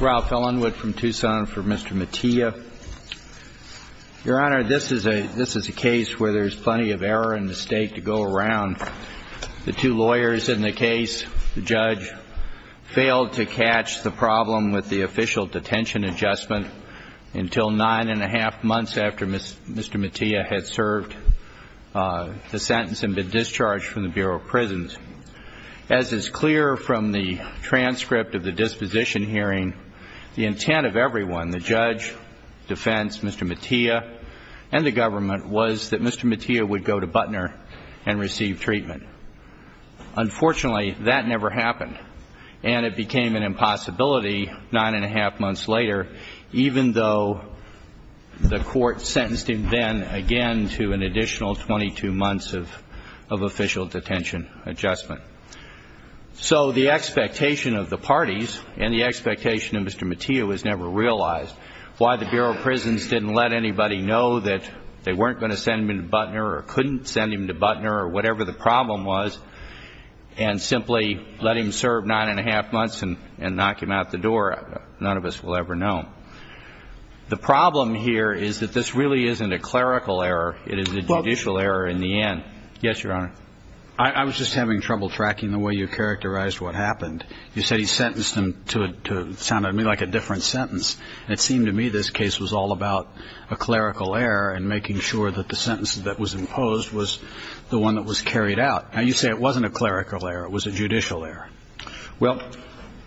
Row fell in with from Tucson for mr. Mattia your honor this is a this is a case where there's plenty of error and mistake to go around the two lawyers in the case judge failed to catch the problem with the official detention adjustment until nine and a half months after miss mr. Mattia had served the clear from the transcript of the disposition hearing the intent of everyone the judge defense mr. Mattia and the government was that mr. Mattia would go to Butner and receive treatment unfortunately that never happened and it became an impossibility nine and a half months later even though the court sentenced him then again to an additional 22 months of official detention adjustment so the expectation of the parties and the expectation of mr. Mattia was never realized why the Bureau of Prisons didn't let anybody know that they weren't going to send him in Butner or couldn't send him to Butner or whatever the problem was and simply let him serve nine and a half months and and knock him out the door none of us will ever know the problem here is that this really isn't a clerical error it is a judicial error in the end yes your honor I was just having trouble tracking the way you characterized what happened you said he sentenced him to it sounded to me like a different sentence it seemed to me this case was all about a clerical error and making sure that the sentence that was imposed was the one that was carried out now you say it wasn't a clerical error it was a judicial error well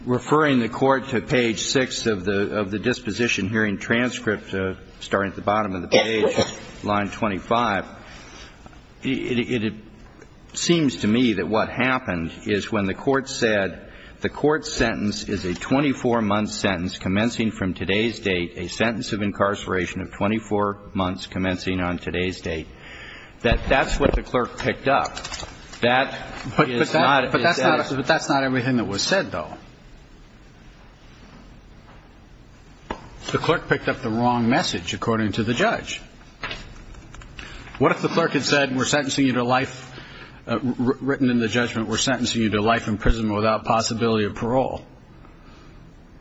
referring the court to page six of the of the disposition hearing transcript starting at the bottom of the page line 25 it seems to me that what happened is when the court said the court sentence is a 24 month sentence commencing from today's date a sentence of incarceration of 24 months commencing on today's date that that's what the clerk picked up that but that's not everything that was said though the clerk picked up the wrong message according to the judge what if the clerk had said we're sentencing you to life written in the judgment we're sentencing you to life in prison without possibility of parole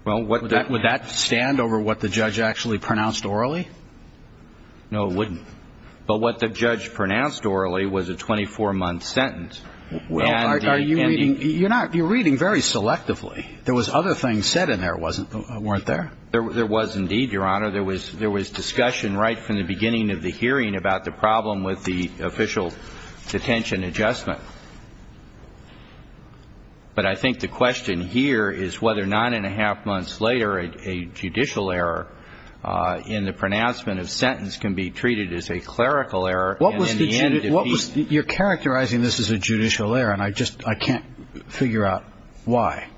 well what that would that stand over what the judge actually pronounced orally no it wouldn't but what the judge pronounced orally was a 24 month sentence well are you reading you're not you're reading very selectively there was other things said in there wasn't weren't there there was indeed your honor there was there was discussion right from the beginning of the hearing about the problem with the official detention adjustment but I think the question here is whether nine and a half months later a judicial error in the pronouncement of sentence can be treated as a clerical error what was the end of what was your characterizing this is a judicial error and I just I can't figure out why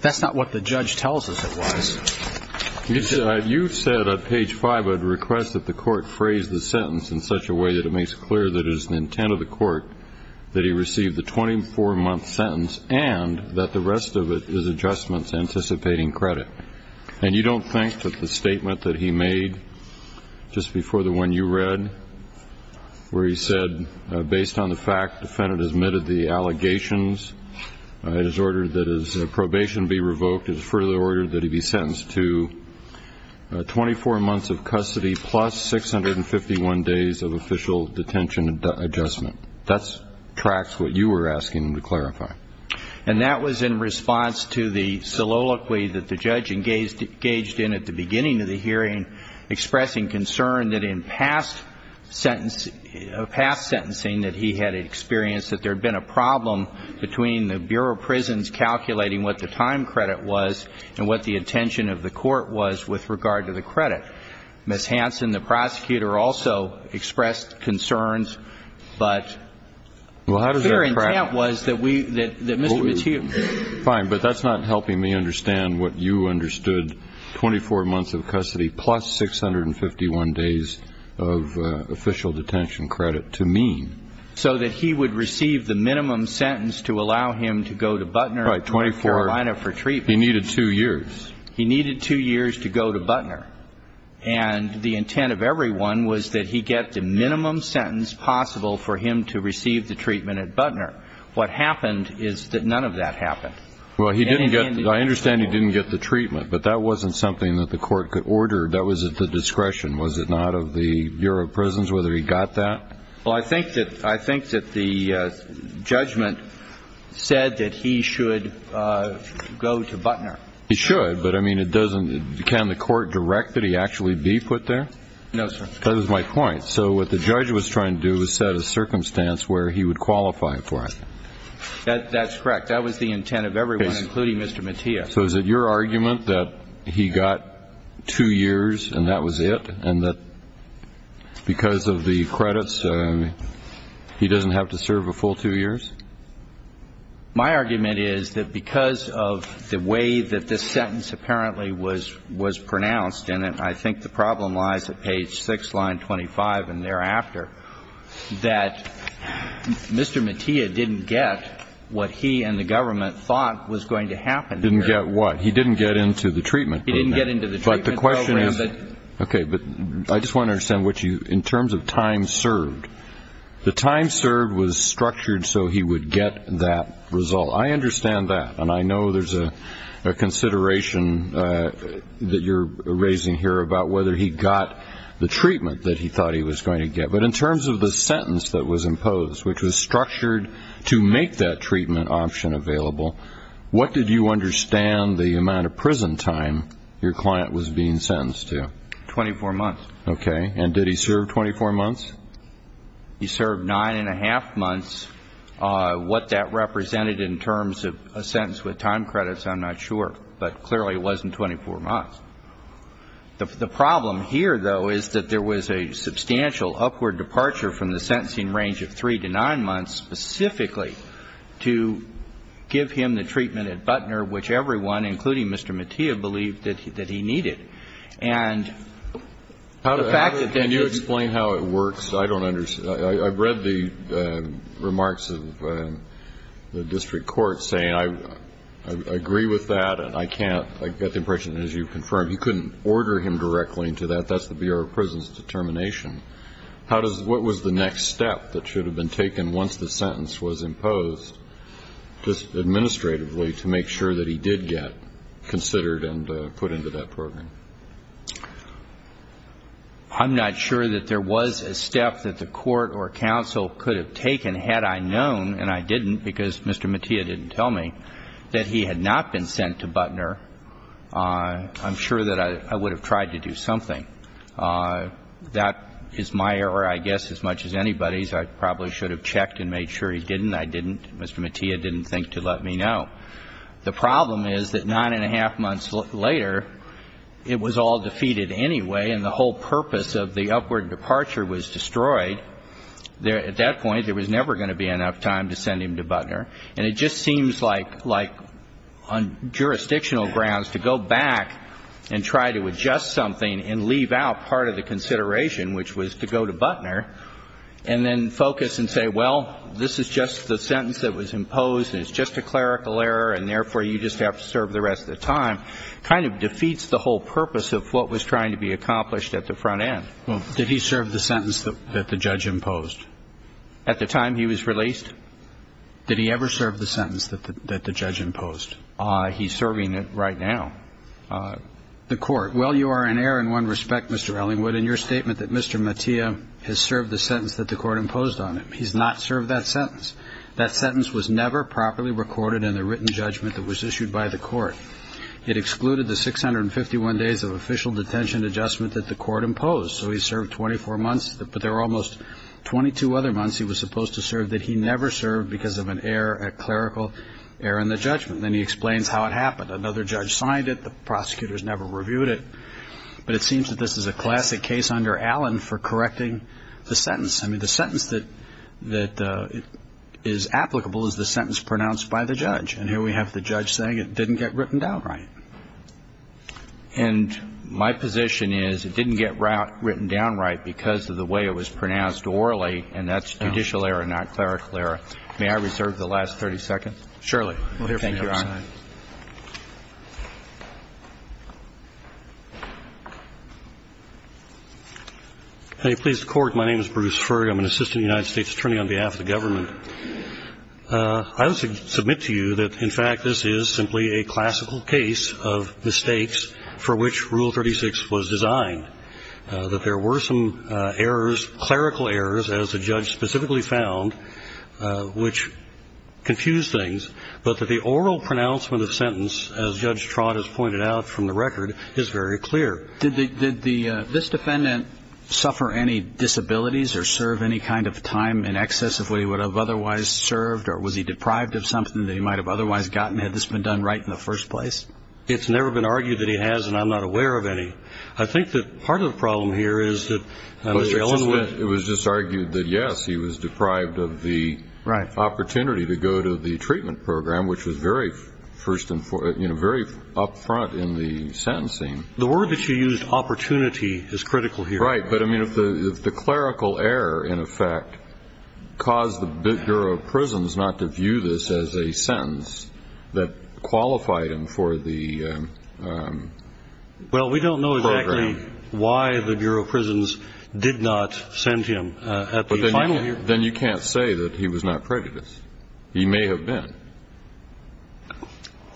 that's not what the judge tells us it was you said you said at page five I'd request that the court phrase the sentence in such a way that it makes clear that is the intent of the court that he received the 24 month sentence and that the rest of it is adjustments anticipating credit and you don't think that the statement that he made just before the one you read where he said based on the fact defendant admitted the allegations it is ordered that his probation be revoked is further ordered that he be sentenced to 24 months of custody plus 651 days of official detention adjustment that's tracks what you were asking him to clarify and that was in response to the soliloquy that the judge engaged engaged in at the beginning of the hearing expressing concern that in past sentence a past sentencing that he had experienced that there had been a problem between the Bureau of Prisons calculating what the time credit was and what the intention of the court was with regard to the credit miss Hanson the prosecutor also expressed concerns but well how does your intent was that we fine but that's not helping me understand what you understood 24 months of custody plus 651 days of official detention credit to mean so that he would receive the minimum sentence to allow him to go to butler right 24 lineup retreat he needed two years he needed two years to go to butler and the intent of everyone was that he get the minimum sentence possible for him to is that none of that happened well he didn't get I understand he didn't get the treatment but that wasn't something that the court could order that was at the discretion was it not of the Bureau of Prisons whether he got that well I think that I think that the judgment said that he should go to butler he should but I mean it doesn't can the court direct that he actually be put there no sir that was my point so what the judge was trying to do is set a that's correct that was the intent of everyone including mr. Mattia so is it your argument that he got two years and that was it and that because of the credits he doesn't have to serve a full two years my argument is that because of the way that this sentence apparently was was pronounced in it I think the what he and the government thought was going to happen didn't get what he didn't get into the treatment he didn't get into the but the question is okay but I just want to understand what you in terms of time served the time served was structured so he would get that result I understand that and I know there's a consideration that you're raising here about whether he got the treatment that he thought he was going to get but in terms of the sentence that imposed which was structured to make that treatment option available what did you understand the amount of prison time your client was being sentenced to 24 months okay and did he serve 24 months he served nine and a half months what that represented in terms of a sentence with time credits I'm not sure but clearly it wasn't 24 months the problem here though is that there was a of three to nine months specifically to give him the treatment at Butner which everyone including mr. Mattia believed that he that he needed and how the fact that then you explain how it works I don't understand I've read the remarks of the district court saying I agree with that and I can't I get the impression as you confirmed he couldn't order him directly into that that's the prison's determination how does what was the next step that should have been taken once the sentence was imposed just administratively to make sure that he did get considered and put into that program I'm not sure that there was a step that the court or counsel could have taken had I known and I didn't because mr. Mattia didn't tell me that he had not been sent to Butner I'm sure that I would have tried to do something that is my error I guess as much as anybody's I probably should have checked and made sure he didn't I didn't mr. Mattia didn't think to let me know the problem is that nine and a half months later it was all defeated anyway and the whole purpose of the upward departure was destroyed there at that point there was never going to be enough time to send him to Butner and it just seems like like on jurisdictional grounds to go back and try to adjust something and leave out part of the consideration which was to go to Butner and then focus and say well this is just the sentence that was imposed it's just a clerical error and therefore you just have to serve the rest of the time kind of defeats the whole purpose of what was trying to be accomplished at the front end did he serve the sentence that the judge imposed at the time he was released did he ever serve the sentence that the judge imposed he's serving it right now the court well you are an error in one respect mr. Ellingwood in your statement that mr. Mattia has served the sentence that the court imposed on him he's not served that sentence that sentence was never properly recorded in the written judgment that was issued by the court it excluded the 651 days of official detention adjustment that the court imposed so he served 24 months but there were almost 22 other months he was supposed to serve that he never served because of an error at clerical error in the judgment then he explains how it happened another judge signed it the prosecutors never reviewed it but it seems that this is a classic case under Allen for correcting the sentence I mean the sentence that that is applicable is the sentence pronounced by the judge and here we have the judge saying it didn't get written down right and my position is it didn't get route written down right because of the way it was May I reserve the last 30 seconds. Surely. We'll hear from you, Your Honor. Hey please the court my name is Bruce Furry I'm an assistant United States attorney on behalf of the government I would submit to you that in fact this is simply a classical case of mistakes for which rule 36 was designed that there were some errors clerical errors as a judge specifically found which confuse things but that the oral pronouncement of sentence as Judge Trott has pointed out from the record is very clear. Did the this defendant suffer any disabilities or serve any kind of time in excess of what he would have otherwise served or was he deprived of something that he might have otherwise gotten had this been done right in the first place? It's never been argued that he has and I'm not aware of any. I think that part of the problem here is that it was just argued that yes he was deprived of the right opportunity to go to the treatment program which was very first and for you know very upfront in the sentencing. The word that you used opportunity is critical here. Right but I mean if the the clerical error in effect caused the Bureau of Prisons not to view this as a sentence that qualified him for the... Well we don't know exactly why the Bureau of Prisons did not send him. But then you can't say that he was not prejudiced. He may have been.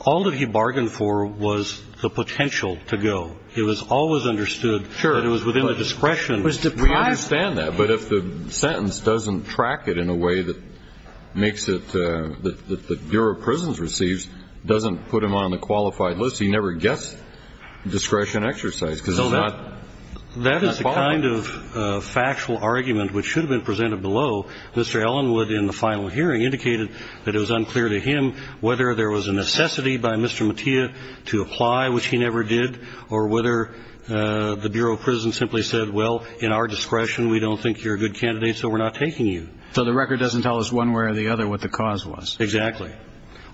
All that he bargained for was the potential to go. He was always understood that it was within the discretion. We understand that but if the sentence doesn't track it in a way that makes it that the Bureau of Prisons receives doesn't put him on the qualified list he never gets discretion exercise because it's not... That is the kind of factual argument which should have been presented below. Mr. Ellenwood in the final hearing indicated that it was unclear to him whether there was a necessity by Mr. Mattia to apply which he never did or whether the Bureau of Prisons simply said well in our case we have a good candidate so we're not taking you. So the record doesn't tell us one way or the other what the cause was. Exactly.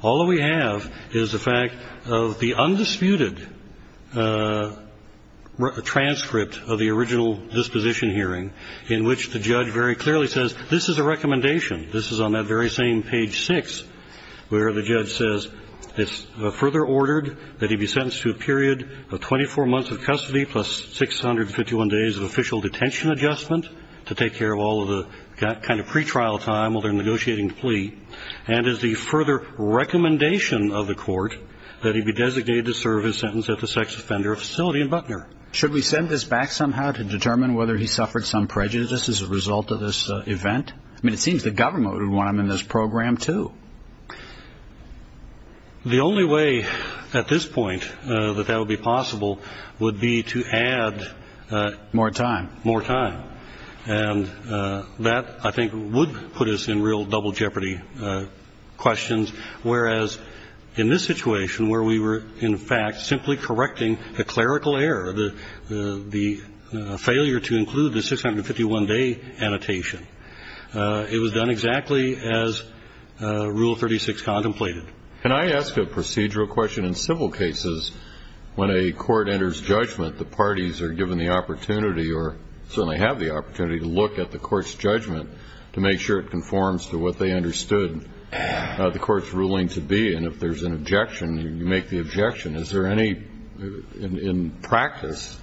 All we have is the fact of the undisputed transcript of the original disposition hearing in which the judge very clearly says this is a recommendation this is on that very same page 6 where the judge says it's further ordered that he be sentenced to a period of 24 months of custody plus 651 days of detention adjustment to take care of all of the kind of pretrial time while they're negotiating the plea and is the further recommendation of the court that he be designated to serve his sentence at the sex offender facility in Butner. Should we send this back somehow to determine whether he suffered some prejudice as a result of this event? I mean it seems the government would want him in this program too. The only way at this point that that would be possible would be to add more time more time and that I think would put us in real double jeopardy questions whereas in this situation where we were in fact simply correcting the clerical error the the failure to include the 651 day annotation it was done exactly as rule 36 contemplated. Can I ask a procedural question in civil cases when a court enters judgment the parties are given the opportunity or certainly have the opportunity to look at the court's judgment to make sure it conforms to what they understood the court's ruling to be and if there's an objection you make the objection is there any in practice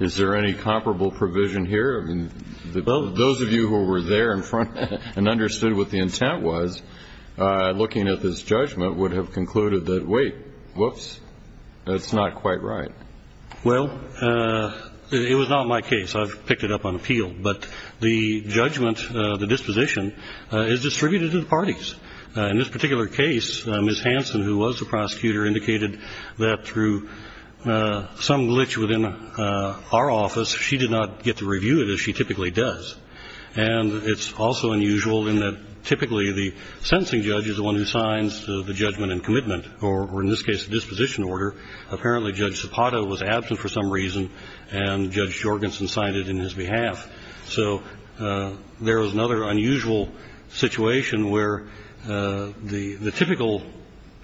is there any comparable provision here? I mean those of you who were there in front and understood what the intent was looking at this judgment would have concluded that wait whoops that's not quite right. Well it was not my case I've picked it up on appeal but the judgment the disposition is distributed to the parties in this particular case Miss Hanson who was the prosecutor indicated that through some glitch within our office she did not get to review it as she typically does and it's also unusual in that typically the sentencing judge is the one who signs the judgment and commitment or in this case the disposition order apparently Judge Zapata was absent for some reason and Judge Jorgensen signed it in his behalf so there is another unusual situation where the the typical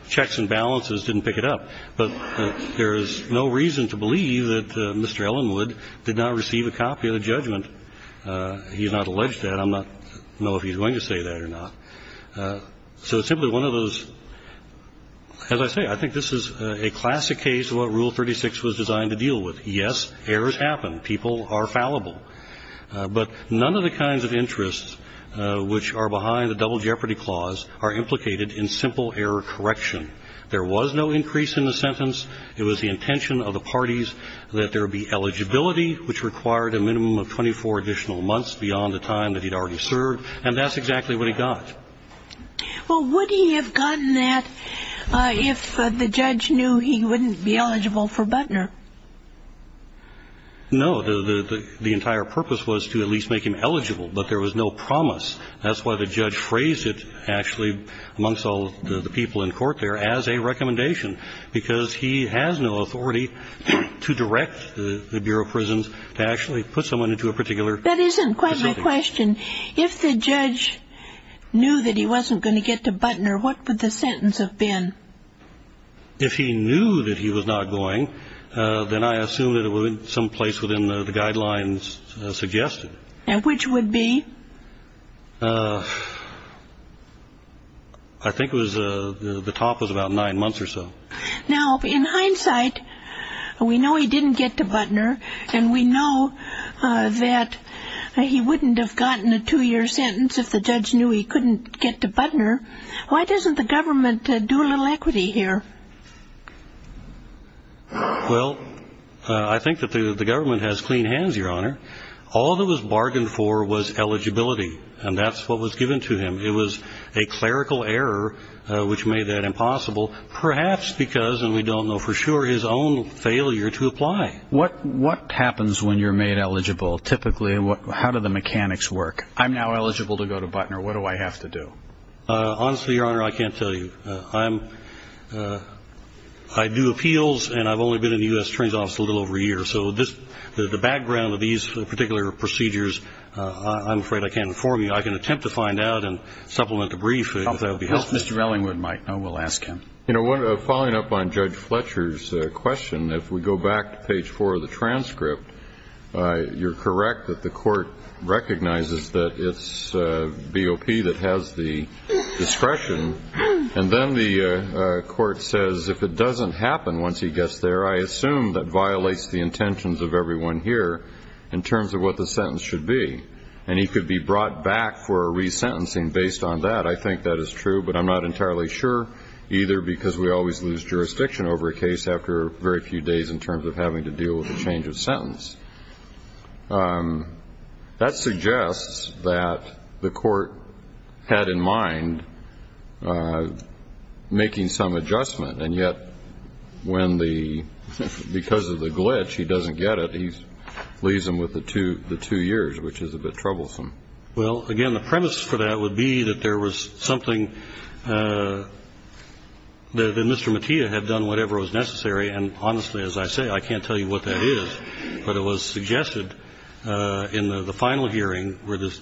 checks and balances didn't pick it up but there is no reason to believe that Mr. Ellenwood did not receive a copy of the judgment he's not alleged that I'm not know if he's going to say that or not so it's simply one of those as I say I think this is a classic case what rule 36 was designed to deal with yes errors happen people are fallible but none of the kinds of interests which are behind the double jeopardy clause are implicated in simple error correction there was no increase in the sentence it was the intention of the parties that there be eligibility which required a minimum of 24 additional months beyond the time that he'd already served and that's exactly what he got. Well would he have gotten that if the judge knew he wouldn't be eligible for Butner? No the entire purpose was to at least make him eligible but there was no promise that's why the judge phrased it actually amongst all the people in court there as a recommendation because he has no authority to direct the Bureau of Prisons to actually put someone into a particular that isn't quite a question if the judge knew that he wasn't going to get to Butner what would the sentence have been? if he knew that he was not going then I assume that it would in some place within the guidelines suggested. Now which would be? I think was the top was about nine months or so. Now in hindsight we know he didn't get to Butner and we know that he wouldn't have gotten a two-year sentence if the judge knew he couldn't get to Butner. Why doesn't the government do a little equity here? Well I think that the government has clean hands your honor. All that was bargained for was eligibility and that's what was given to him. It was a clerical error which made that impossible perhaps because and we don't know for sure his own failure to apply. What what happens when you're made eligible typically and what how do the mechanics work? I'm now eligible to go to Butner what do I have to do? Honestly your honor I can't tell you. I'm I do appeals and I've only been in the US Transit Office a little over a year so this the background of these particular procedures I'm afraid I can't inform you. I can attempt to find out and supplement with a brief. I hope that'll be helpful. Mr. Ellingwood might know. We'll ask him. You know what following up on Judge Fletcher's question if we go back to page 4 of the transcript you're correct that the court recognizes that it's BOP that has the discretion and then the court says if it doesn't happen once he gets there I assume that violates the intentions of everyone here in terms of what the sentence should be and he could be brought back for a resentencing based on that I think that is true but I'm not entirely sure either because we always lose jurisdiction over a case after very few days in terms of having to deal with the change of sentence. That suggests that the court had in mind making some adjustment and yet when the because of the glitch he doesn't get it he leaves him with the two the two years which is a bit troublesome. Well again the premise for that would be that there was something that Mr. Mattia had done whatever was necessary and honestly as I say I can't tell you what that is but it was suggested in the final hearing where this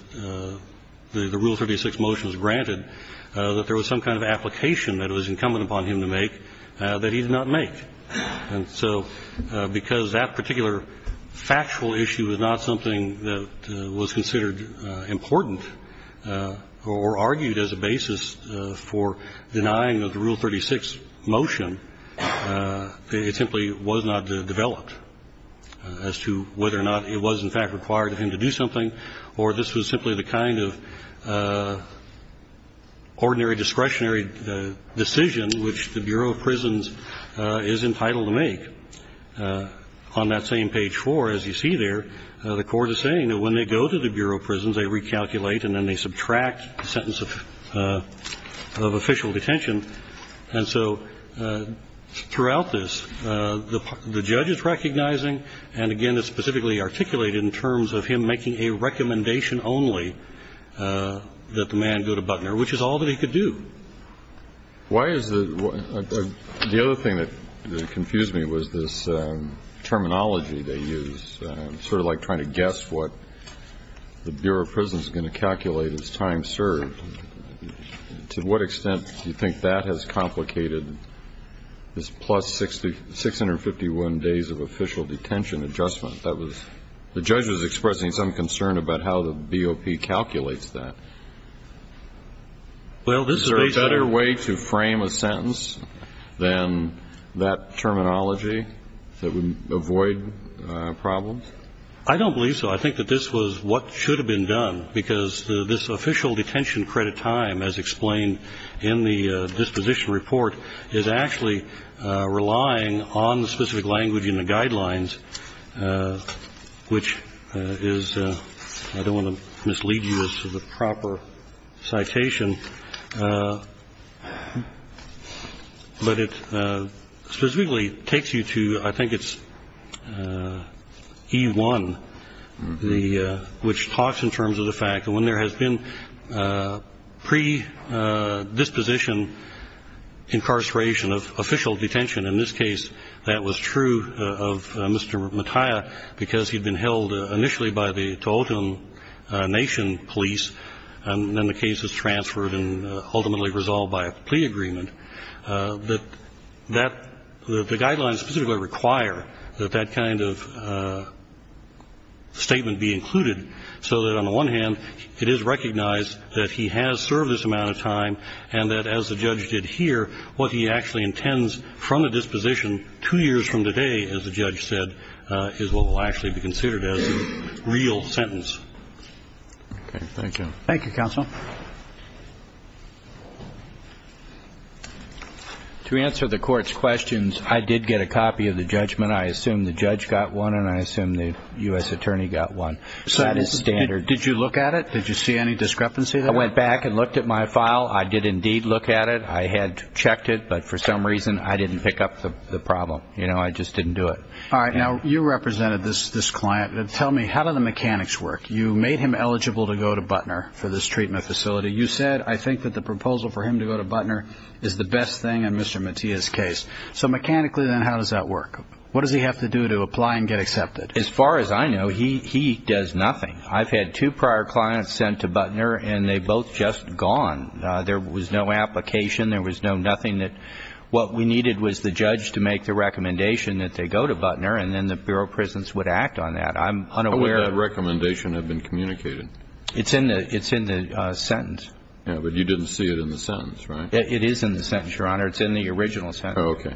the rule 36 motion was granted that there was some kind of application that was incumbent upon him to make that he did not make and so because that particular factual issue is not something that was considered important or argued as a basis for denying that the rule 36 motion it simply was not developed as to whether or not it was in fact required of him to do something or this was simply the kind of ordinary discretionary decision which the Bureau of Prisons is entitled to make. On that same page four as you see there the court is saying that when they go to the Bureau of Prisons they recalculate and then they subtract the sentence of official detention and so throughout this the judge is recognizing and again it's specifically articulated in terms of him making a recommendation only that the man go to Butner which is all that he could do. Why is the the other thing that confused me was this terminology they use sort of like trying to guess what the Bureau of Prisons is going to calculate as time served to what extent do you think that has complicated this plus 60 651 days of official detention adjustment that was the judge was expressing some concern about how the BOP calculates that. Well this is a better way to frame a sentence than that terminology that would avoid problems? I don't believe so. I think that this was what should have been done because this official detention credit time as explained in the disposition report is actually relying on the specific language in the guidelines which is I don't want to mislead you as to the proper citation. But it specifically takes you to I think it's E1 which talks in terms of the fact that when there has been predisposition incarceration of official detention in this case that was true of Mr. Mattia because he'd been held initially by the resolved by a plea agreement that that the guidelines specifically require that that kind of statement be included so that on the one hand it is recognized that he has served this amount of time and that as the judge did here what he actually intends from a disposition two years from today as the judge said is what will actually be considered as a real sentence. Thank you counsel. To answer the court's questions I did get a copy of the judgment. I assume the judge got one and I assume the US attorney got one. So that is standard. Did you look at it? Did you see any discrepancy there? I went back and looked at my file. I did indeed look at it. I had checked it but for some reason I didn't pick up the problem. You know I just client. Tell me how do the mechanics work? You made him eligible to go to Butner for this treatment facility. You said I think that the proposal for him to go to Butner is the best thing in Mr. Mattia's case. So mechanically then how does that work? What does he have to do to apply and get accepted? As far as I know he he does nothing. I've had two prior clients sent to Butner and they both just gone. There was no application. There was no nothing that what we needed was the judge to make the recommendation that they go to Butner and then the Europrisons would act on that. I'm unaware. How would that recommendation have been communicated? It's in the it's in the sentence. Yeah but you didn't see it in the sentence right? It is in the sentence your honor. It's in the original sentence. Okay.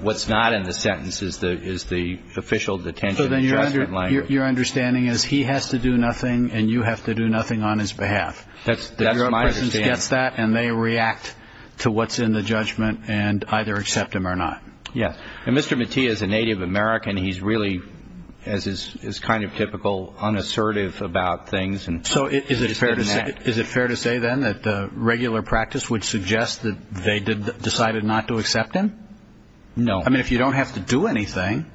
What's not in the sentence is the is the official detention. So then you're under your understanding is he has to do nothing and you have to do nothing on his behalf. That's the Europrisons gets that and they react to what's in the he's really as is kind of typical unassertive about things and so is it fair to say is it fair to say then that regular practice would suggest that they did decided not to accept him? No. I mean if you don't have to do anything.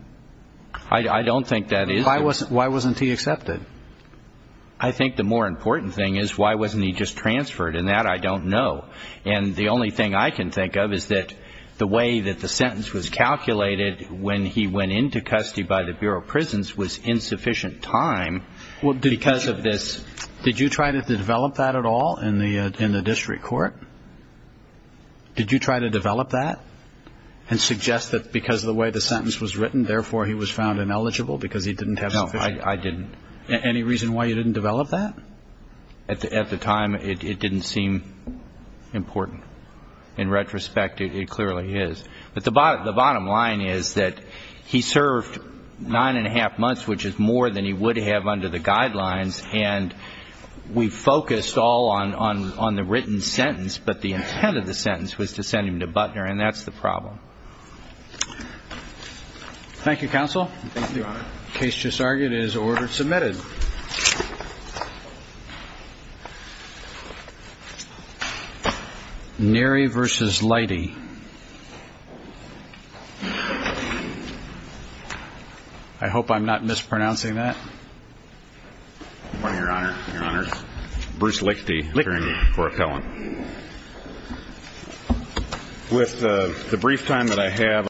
I don't think that is. Why wasn't why wasn't he accepted? I think the more important thing is why wasn't he just transferred and that I don't know and the only thing I can think of is that the way that the sentence was calculated when he went into custody by the Bureau of Prisons was insufficient time. Well because of this. Did you try to develop that at all in the in the district court? Did you try to develop that and suggest that because of the way the sentence was written therefore he was found ineligible because he didn't have. No I didn't. Any reason why you didn't develop that? At the at the time it didn't seem important. In retrospect it clearly is but the bottom line is that he served nine and a half months which is more than he would have under the guidelines and we focused all on on the written sentence but the intent of the sentence was to send him to Butner and that's the problem. Thank you counsel. The case just Neri versus Lighty. I hope I'm not mispronouncing that. Your honor. Your honor. Bruce Lickety appearing before appellant. With the brief time that I have